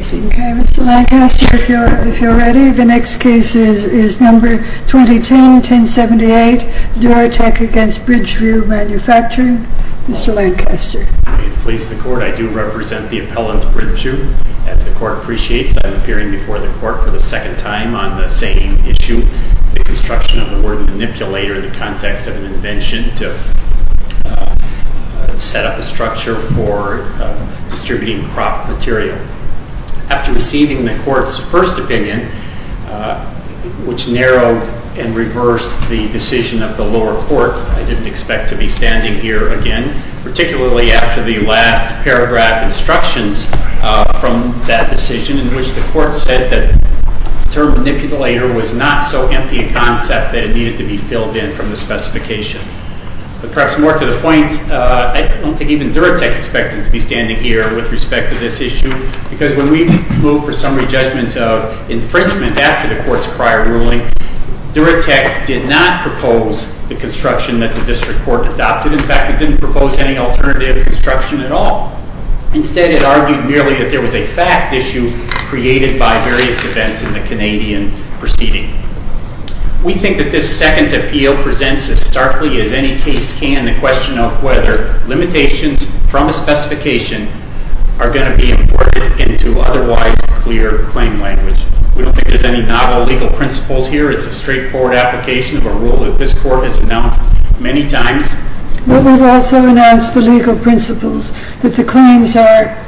Okay, Mr. Lancaster, if you're ready, the next case is number 2010-1078, Duratech against Bridgeview Manufacturing. Mr. Lancaster. May it please the court, I do represent the appellant, Bridgeview. As the court appreciates, I'm appearing before the court for the second time on the same issue, the construction of the word manipulator in the context of an invention to set up a structure for distributing crop material. After receiving the court's first opinion, which narrowed and reversed the decision of the lower court, I didn't expect to be standing here again, particularly after the last paragraph instructions from that decision in which the court said that the term manipulator was not so empty a concept that it needed to be filled in from the specification. But perhaps more to the point, I don't think even Duratech expected to be standing here with respect to this issue, because when we moved for summary judgment of infringement after the court's prior ruling, Duratech did not propose the construction that the district court adopted. In fact, it didn't propose any alternative construction at all. Instead, it argued merely that there was a fact issue created by various events in the Canadian proceeding. We think that this second appeal presents as starkly as any case can the question of whether limitations from a specification are gonna be imported into otherwise clear claim language. We don't think there's any novel legal principles here. It's a straightforward application of a rule that this court has announced many times. But we've also announced the legal principles that the claims are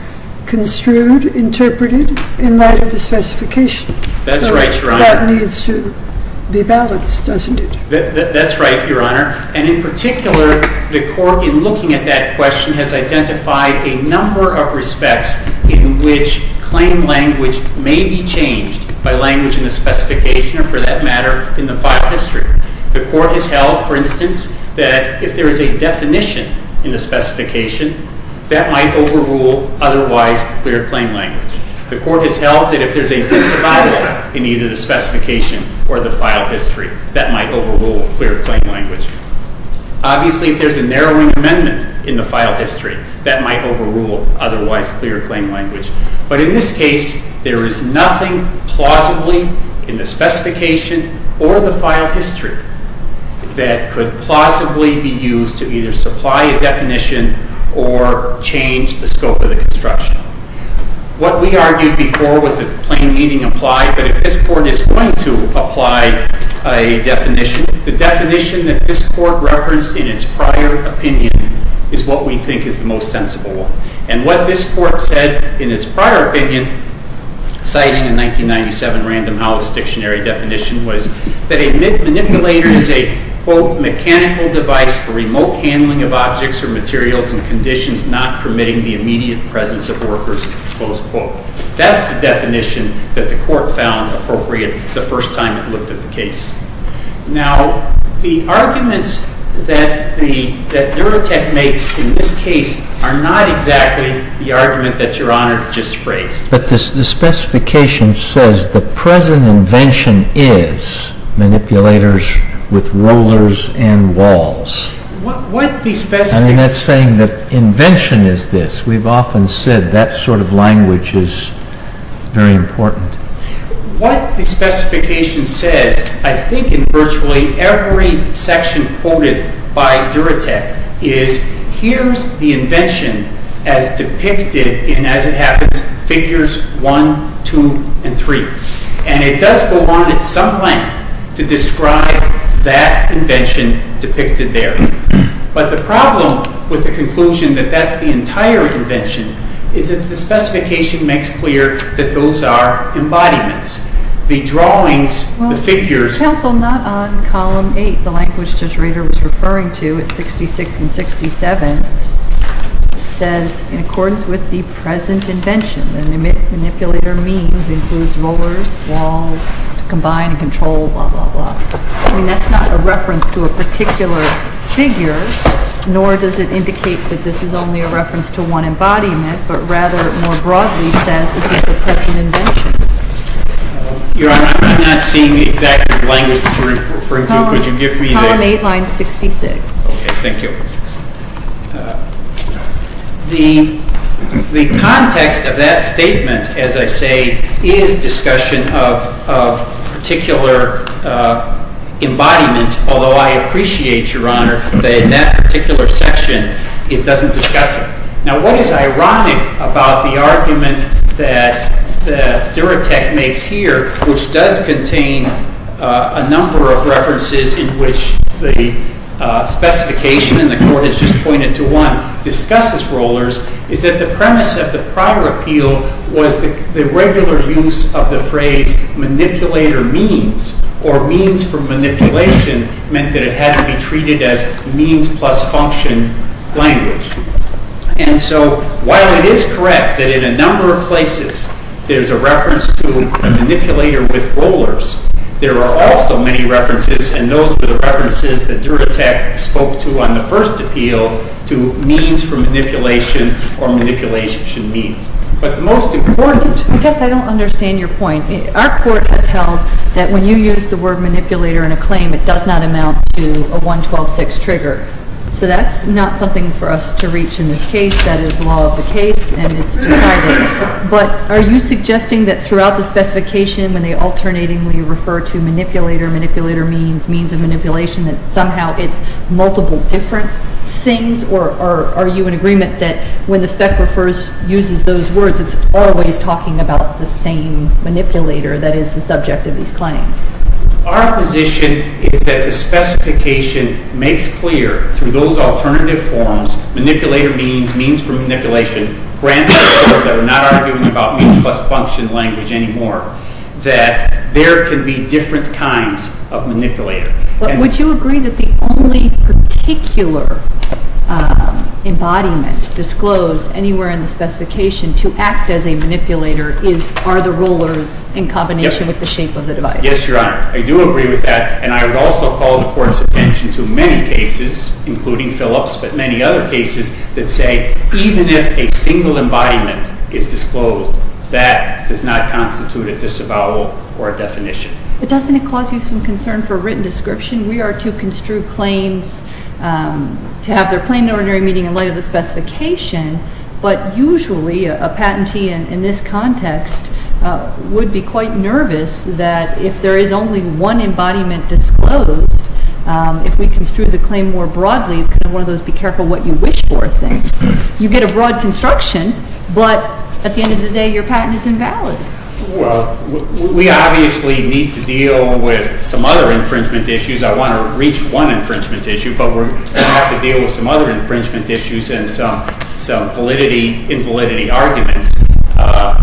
construed, interpreted in light of the specification. That's right, Your Honor. That needs to be balanced, doesn't it? That's right, Your Honor. And in particular, the court in looking at that question has identified a number of respects in which claim language may be changed by language in the specification, or for that matter, in the file history. The court has held, for instance, that if there is a definition in the specification, that might overrule otherwise clear claim language. The court has held that if there's a disavowal in either the specification or the file history, that might overrule clear claim language. Obviously, if there's a narrowing amendment in the file history, that might overrule otherwise clear claim language. But in this case, there is nothing plausibly in the specification or the file history that could plausibly be used to either supply a definition or change the scope of the construction. What we argued before was that plain meaning applied, but if this court is going to apply a definition, the definition that this court referenced in its prior opinion is what we think is the most sensible one. And what this court said in its prior opinion, citing a 1997 Random House Dictionary definition, was that a manipulator is a, quote, mechanical device for remote handling of objects or materials in conditions not permitting the immediate presence of workers, close quote. the first time it looked at the case. Now, the arguments that Neurotech makes in this case are not exactly the argument that Your Honor just phrased. But the specification says, the present invention is manipulators with rollers and walls. I mean, that's saying that invention is this. We've often said that sort of language is very important. What the specification says, I think, in virtually every section quoted by Neurotech, is here's the invention as depicted in, as it happens, figures 1, 2, and 3. And it does go on at some length to describe that invention depicted there. But the problem with the conclusion that that's the entire invention is the specification makes clear that those are embodiments. The drawings, the figures. Counsel, not on column 8, the language Judge Rader was referring to at 66 and 67, says, in accordance with the present invention, the manipulator means includes rollers, walls, to combine and control, blah, blah, blah. I mean, that's not a reference to a particular figure, nor does it indicate that this is only a reference to one embodiment. But rather, more broadly, says this is the present invention. Your Honor, I'm not seeing the exact language that you're referring to. Could you give me the? Column 8, line 66. OK. Thank you. The context of that statement, as I say, is discussion of particular embodiments. Although I appreciate, Your Honor, that in that particular section, it doesn't discuss them. Now, what is ironic about the argument that Duratech makes here, which does contain a number of references in which the specification, and the court has just pointed to one, discusses rollers, is that the premise of the prior appeal was the regular use of the phrase manipulator means, or means for manipulation meant that it was a means plus function language. And so while it is correct that in a number of places there's a reference to a manipulator with rollers, there are also many references. And those are the references that Duratech spoke to on the first appeal to means for manipulation or manipulation means. But the most important. I guess I don't understand your point. Our court has held that when you use the word manipulator in a claim, it does not amount to a 112-6 trigger. So that's not something for us to reach in this case. That is the law of the case, and it's decided. But are you suggesting that throughout the specification, when they alternately refer to manipulator, manipulator means, means of manipulation, that somehow it's multiple different things? Or are you in agreement that when the spec refers, uses those words, it's always talking about the same manipulator that is the subject of these claims? Our position is that the specification makes clear, through those alternative forms, manipulator means, means for manipulation, granted that we're not arguing about means plus function language anymore, that there can be different kinds of manipulator. Would you agree that the only particular embodiment disclosed anywhere in the specification to act as a manipulator are the rollers in combination with the shape of the device? Yes, Your Honor. I do agree with that. And I would also call the court's attention to many cases, including Phillips, but many other cases that say, even if a single embodiment is disclosed, that does not constitute a disavowal or a definition. But doesn't it cause you some concern for written description? We are to construe claims to have their plain and ordinary meaning in light of the specification. But usually, a patentee in this context would be quite nervous that if there is only one embodiment disclosed, if we construe the claim more broadly, could one of those be careful what you wish for, I think? You get a broad construction, but at the end of the day, your patent is invalid. Well, we obviously need to deal with some other infringement issues. I want to reach one infringement issue, but we're going to have to deal with some other infringement issues and some validity, invalidity arguments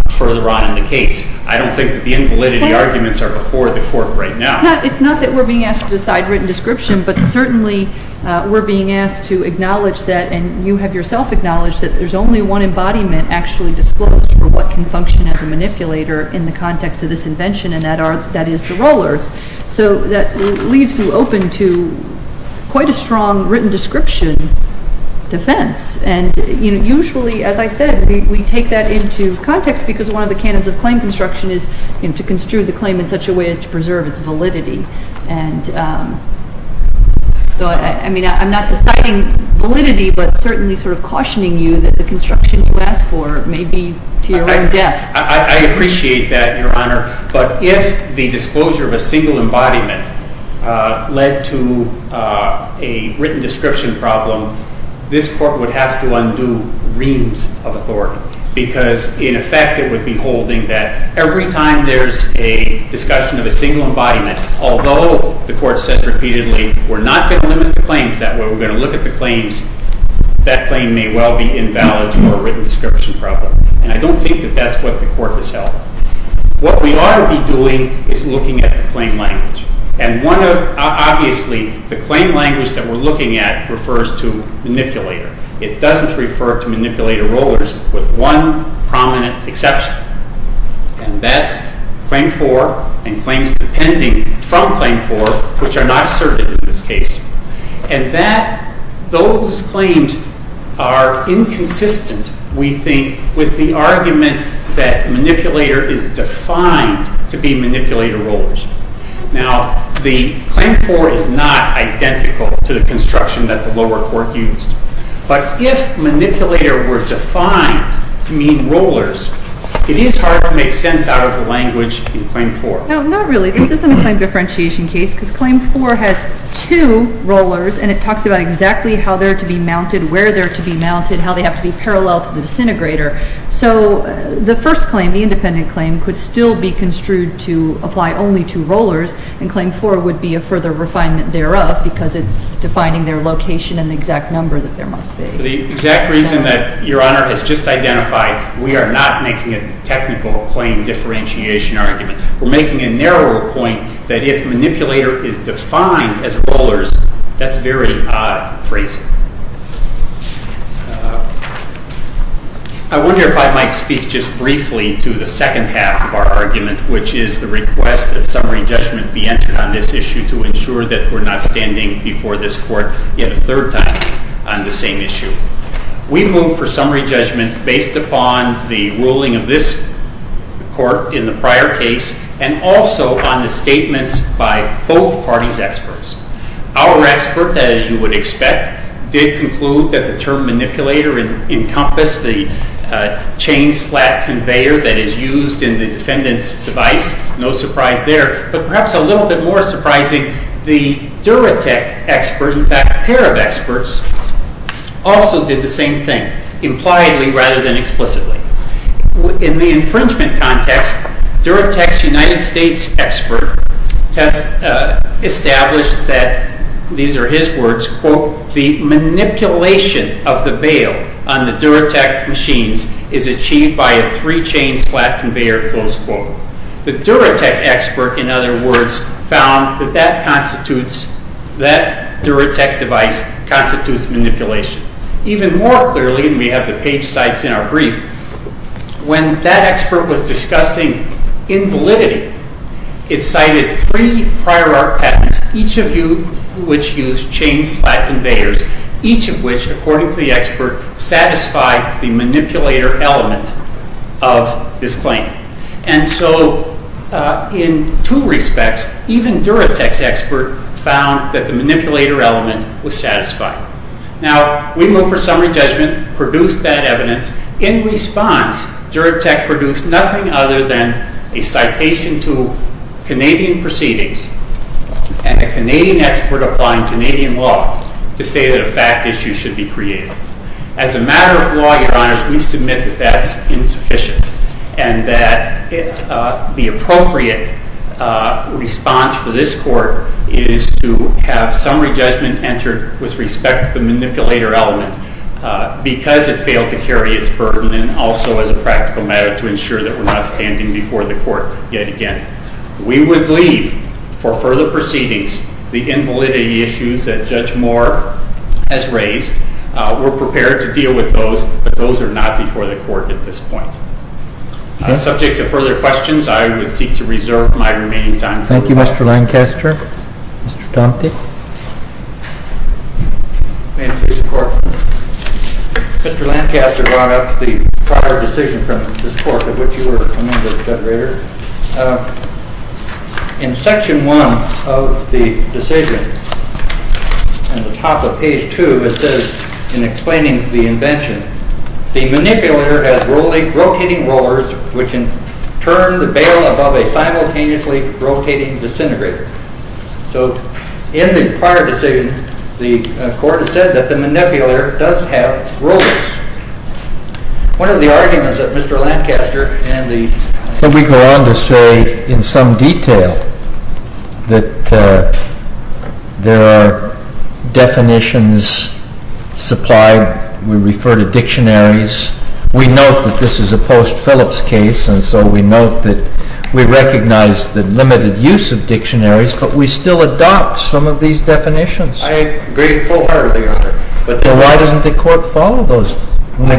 further on in the case. I don't think that the invalidity arguments are before the court right now. It's not that we're being asked to decide written description, but certainly, we're being asked to acknowledge that, and you have yourself acknowledged, that there's only one embodiment actually disclosed for what can function as a manipulator in the context of this invention, and that is the rollers. So that leaves you open to quite a strong written description defense. And usually, as I said, we take that into context because one of the canons of claim construction is to construe the claim in such a way as to preserve its validity. And so I mean, I'm not deciding validity, but certainly sort of cautioning you that the construction you ask for may be to your own death. I appreciate that, Your Honor. But if the disclosure of a single embodiment led to a written description problem, this court would have to undo reams of authority because, in effect, it would be holding that every time there's a discussion of a single embodiment, although the court says repeatedly, we're not going to limit the claims, that we're going to look at the claims, that claim may well be invalid for a written description problem. And I don't think that that's what the court has held. What we ought to be doing is looking at the claim language. And obviously, the claim language that we're looking at refers to manipulator. It doesn't refer to manipulator rollers with one prominent exception. And that's Claim 4 and claims pending from Claim 4, which are not asserted in this case. And those claims are inconsistent, we think, with the argument that manipulator is defined to be manipulator rollers. Now, the Claim 4 is not identical to the construction that the lower court used. But if manipulator were defined to mean rollers, it is hard to make sense out of the language in Claim 4. No, not really. This isn't a claim differentiation case because Claim 4 has two rollers, and it talks about exactly how they're to be mounted, where they're to be mounted, how they have to be parallel to the disintegrator. So the first claim, the independent claim, could still be construed to apply only two rollers. And Claim 4 would be a further refinement thereof because it's defining their location and the exact number that there must be. So the exact reason that Your Honor has just identified, we are not making a technical claim differentiation argument. We're making a narrower point that if manipulator is defined as rollers, that's very odd phrasing. I wonder if I might speak just briefly to the second half of our argument, which is the request that summary judgment be entered on this issue to ensure that we're not standing before this court yet a third time on the same issue. We move for summary judgment based upon the ruling of this court in the prior case, and also on the statements by both parties' experts. Our expert, as you would expect, is did conclude that the term manipulator encompassed the chain slap conveyor that is used in the defendant's device. No surprise there. But perhaps a little bit more surprising, the Duratech expert, in fact, pair of experts, also did the same thing, impliedly rather than explicitly. In the infringement context, Duratech's United States expert established that, these are his words, quote, the manipulation of the bail on the Duratech machines is achieved by a three-chain slap conveyor, close quote. The Duratech expert, in other words, found that that Duratech device constitutes manipulation. Even more clearly, and we have the page sites in our brief, when that expert was discussing invalidity, it cited three prior art patents, each of which used chain slap conveyors, each of which, according to the expert, satisfied the manipulator element of this claim. And so in two respects, even Duratech's expert found that the manipulator element was satisfied. Now, we move for summary judgment, produced that evidence. In response, Duratech produced nothing other than a citation to Canadian proceedings, and a Canadian expert applying Canadian law to say that a fact issue should be created. As a matter of law, your honors, we submit that that's insufficient, and that the appropriate response for this court is to have summary judgment entered with respect to the manipulator element, because it failed to carry its burden, and also as a practical matter, to ensure that we're not standing before the court yet again. We would leave for further proceedings the invalidity issues that Judge Moore has raised. We're prepared to deal with those, but those are not before the court at this point. Subject to further questions, I would seek to reserve my remaining time for the rebuttal. Thank you, Mr. Lancaster. Mr. Dante? May it please the court. Mr. Lancaster brought up the prior decision from this court, of which you were a member, Judge Rader. In section one of the decision, at the top of page two, it says, in explaining the invention, the manipulator has rotating rollers, which in turn, the bail above a simultaneously rotating disintegrator. So in the prior decision, the court has said that the manipulator does have rollers. One of the arguments that Mr. Lancaster and the public say in some detail that there are definitions supplied, we refer to dictionaries. We note that this is a post Phillips case, and so we note that we recognize the limited use of dictionaries, but we still adopt some of these definitions. I agree wholeheartedly, Your Honor. Then why doesn't the court follow those? I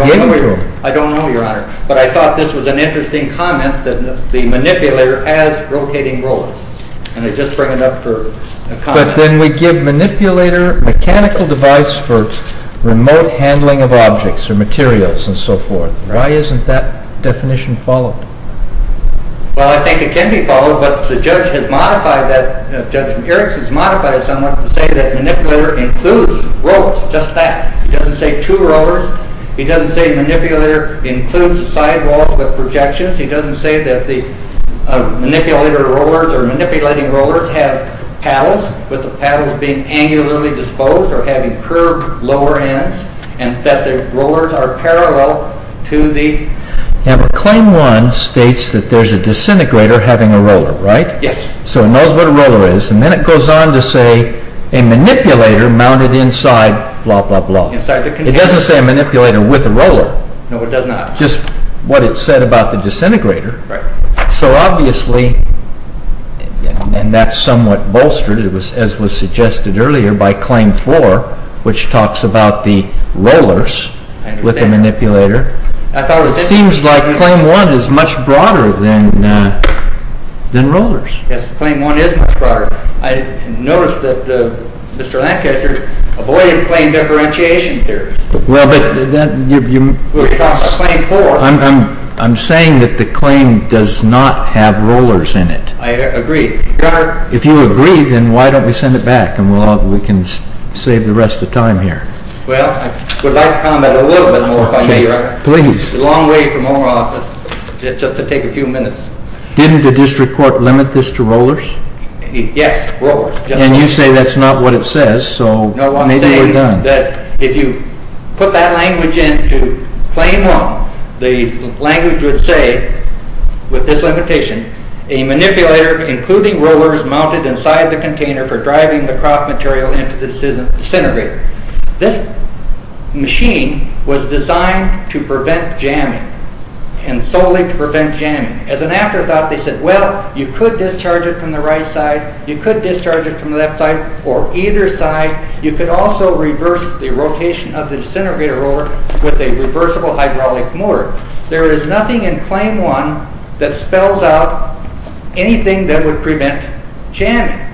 don't know, Your Honor. But I thought this was an interesting comment, the manipulator has rotating rollers, and I just bring it up for a comment. But then we give manipulator mechanical device for remote handling of objects or materials and so forth. Why isn't that definition followed? Well, I think it can be followed, but the judge has modified that. Judge Eriks has modified it somewhat to say that manipulator includes rollers, just that. He doesn't say two rollers. He doesn't say manipulator includes sidewalls with projections. He doesn't say that the manipulator rollers or manipulating rollers have paddles, with the paddles being angularly disposed or having curved lower ends, and that the rollers are parallel to the- Claim one states that there's a disintegrator having a roller, right? Yes. So it knows what a roller is, and then it goes on to say a manipulator mounted inside blah, blah, blah. Inside the container. It doesn't say a manipulator with a roller. No, it does not. Just what it said about the disintegrator. So obviously, and that's somewhat bolstered, as was suggested earlier, by claim four, which talks about the rollers with the manipulator. It seems like claim one is much broader than rollers. Yes, claim one is much broader. I noticed that Mr. Lancaster avoided claim differentiation theory. Well, but that, I'm saying that the claim does not have rollers in it. I agree. If you agree, then why don't we send it back, and we can save the rest of time here. Well, I would like to comment a little bit more, if I may, Your Honor. Please. It's a long way from our office, just to take a few minutes. Didn't the district court limit this to rollers? Yes, rollers. And you say that's not what it says, so maybe we're done. If you put that language in to claim one, the language would say, with this limitation, a manipulator, including rollers, mounted inside the container for driving the crop material into the disintegrator. This machine was designed to prevent jamming, and solely to prevent jamming. As an afterthought, they said, well, you could discharge it from the right side, you could discharge it from the left side, or either side. You could also reverse the rotation of the disintegrator roller with a reversible hydraulic motor. There is nothing in claim one that spells out anything that would prevent jamming.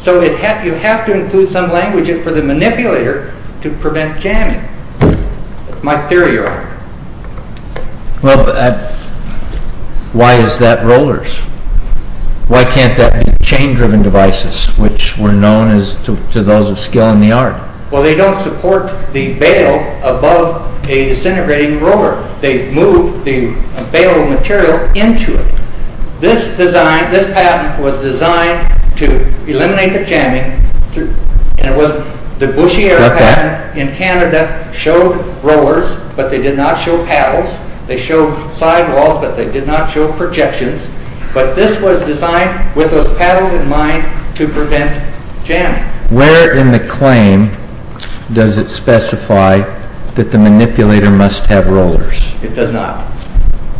So you have to include some language for the manipulator to prevent jamming. That's my theory, Your Honor. Well, why is that rollers? Why can't that be chain-driven devices, which were known to those of skill in the art? Well, they don't support the bail above a disintegrating roller. They move the bail material into it. This design, this patent, was designed to eliminate the jamming. The Bouchier patent in Canada showed rollers, but they did not show paddles. They showed sidewalls, but they did not show projections. But this was designed, with those paddles in mind, to prevent jamming. Where in the claim does it specify that the manipulator must have rollers? It does not.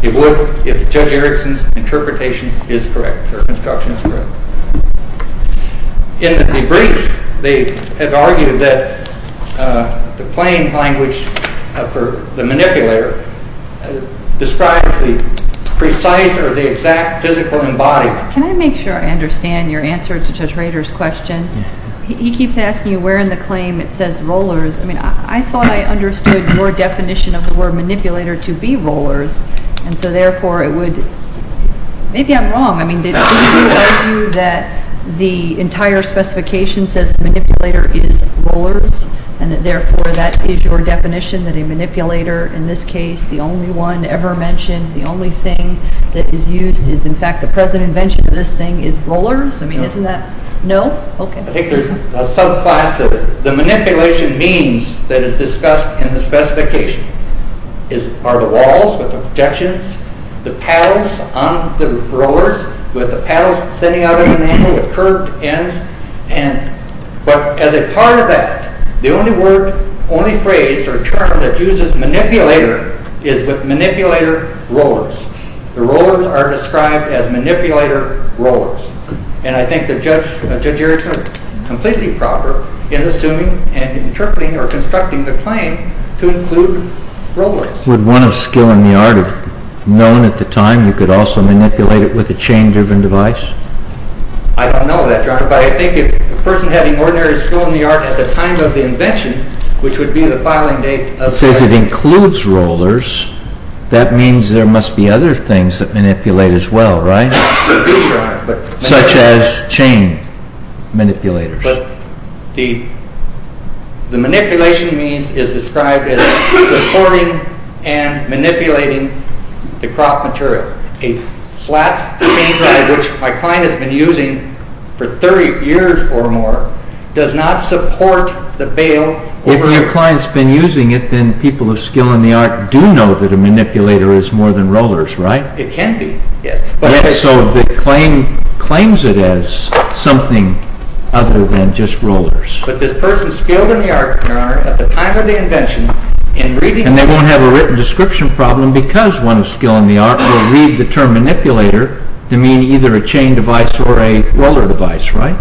It would if Judge Erickson's interpretation is correct, or construction is correct. In the debrief, they have argued that the plain language for the manipulator describes the precise or the exact physical embodiment. Can I make sure I understand your answer to Judge Rader's question? He keeps asking you where in the claim it says rollers. I mean, I thought I understood your definition of the word manipulator to be rollers. And so therefore, it would. Maybe I'm wrong. I mean, did you argue that the entire specification says manipulator is rollers, and that therefore, that is your definition, that a manipulator, in this case, the only one ever mentioned, the only thing that is used, is in fact, the present invention of this thing is rollers? I mean, isn't that? No? OK. I think there's a subclass of it. The manipulation means that is discussed in the specification are the walls with the projections, the paddles on the rollers, with the paddles standing out at an angle, with curved ends. But as a part of that, the only word, only phrase, or term that uses manipulator is with manipulator rollers. The rollers are described as manipulator rollers. And I think that Judge Erickson is completely proper in assuming and interpreting or constructing the claim to include rollers. Would one of skill in the art have known at the time you could also manipulate it with a chain-driven device? I don't know that, Your Honor. But I think if a person having ordinary skill in the art at the time of the invention, which would be the filing date of the invention. It says it includes rollers. That means there must be other things that manipulate as well, right? Such as chain manipulators. The manipulation means is described as supporting and manipulating the crop material. A flat chain drive, which my client has been using for 30 years or more, does not support the bale. If your client's been using it, then people of skill in the art do know that a manipulator is more than rollers, right? It can be, yes. So the claim claims it as something other than just rollers. But this person skilled in the art, Your Honor, at the time of the invention, in reading it. And they won't have a written description problem because one of skill in the art will read the term manipulator to mean either a chain device or a roller device, right?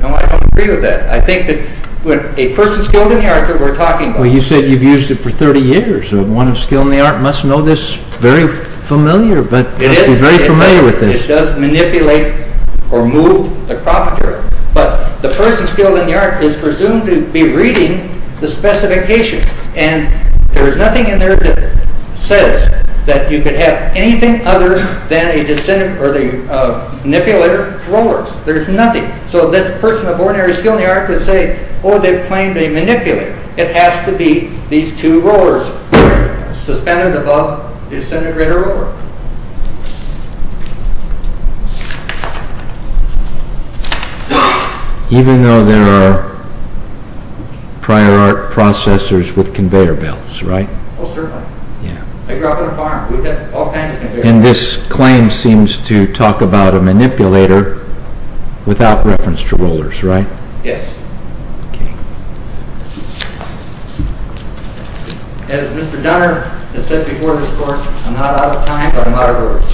No, I don't agree with that. I think that a person skilled in the art that we're talking about. Well, you said you've used it for 30 years. So one of skill in the art must know this very familiar, but must be very familiar with this. It does manipulate or move the crop material. But the person skilled in the art is presumed to be reading the specification. And there is nothing in there that says that you could have anything other than a manipulator rollers. There's nothing. So this person of ordinary skill in the art would say, oh, they've claimed a manipulator. It has to be these two rollers suspended above this integrated roller. Even though there are prior art processors with conveyor belts, right? Oh, certainly. I grew up on a farm. We had all kinds of conveyors. And this claim seems to talk about a manipulator without reference to rollers, right? Yes. As Mr. Donner has said before this court, I'm not out of time, but I'm out of words.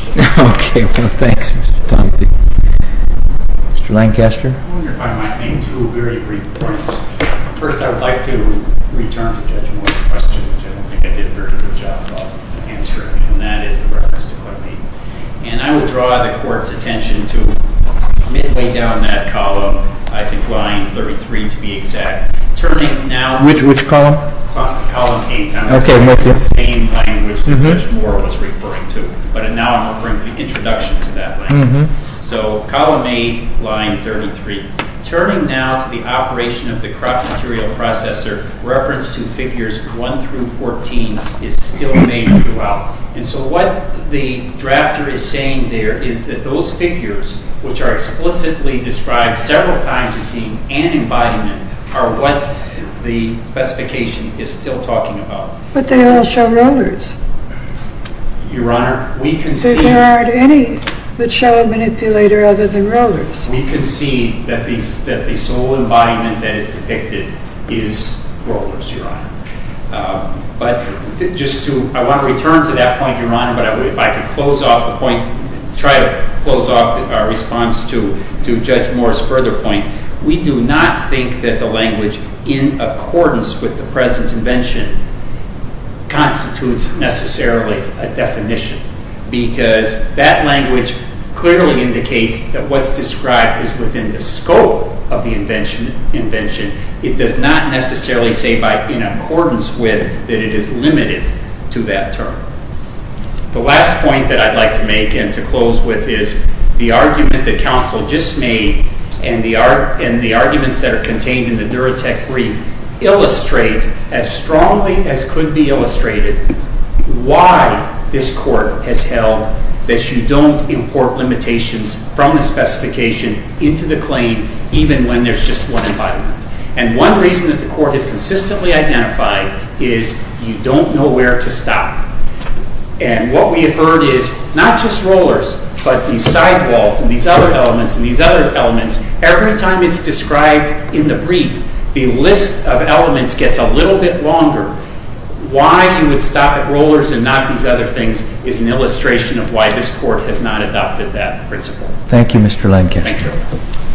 OK. Well, thanks, Mr. Tompkins. Mr. Lancaster? I want to clarify my main two very brief points. First, I would like to return to Judge Moore's question, which I don't think I did a very good job of answering. And that is the reference to clay. And I would draw the court's attention to midway down that column, I think line 33 to be exact, Which column? Column 8. OK. It's the same language that Judge Moore was referring to. But now I'm referring to the introduction to that language. So column 8, line 33. Turning now to the operation of the crop material processor, reference to figures 1 through 14 is still made throughout. And so what the drafter is saying there is that those figures, which are explicitly described several times as being an embodiment, are what the specification is still talking about. But they all show rollers. Your Honor, we can see. There aren't any that show a manipulator other than rollers. We can see that the sole embodiment that is depicted is rollers, Your Honor. But just to, I want to return to that point, Your Honor, but if I could close off the point, try to close off our response to Judge Moore's further point, we do not think that the language in accordance with the present invention constitutes necessarily a definition. Because that language clearly indicates that what's described is within the scope of the invention. It does not necessarily say by in accordance with that it is limited to that term. The last point that I'd like to make and to close with is the argument that counsel just made and the arguments that are contained in the Duratec brief illustrate, as strongly as could be illustrated, why this Court has held that you don't import limitations from the specification into the claim even when there's just one embodiment. And one reason that the Court has consistently identified is you don't know where to stop. And what we have heard is not just rollers, but these sidewalls and these other elements and these other elements. Every time it's described in the brief, the list of elements gets a little bit longer. Why you would stop at rollers and not these other things is an illustration of why this Court has not adopted that principle. Thank you, Mr. Lankin. Thank you.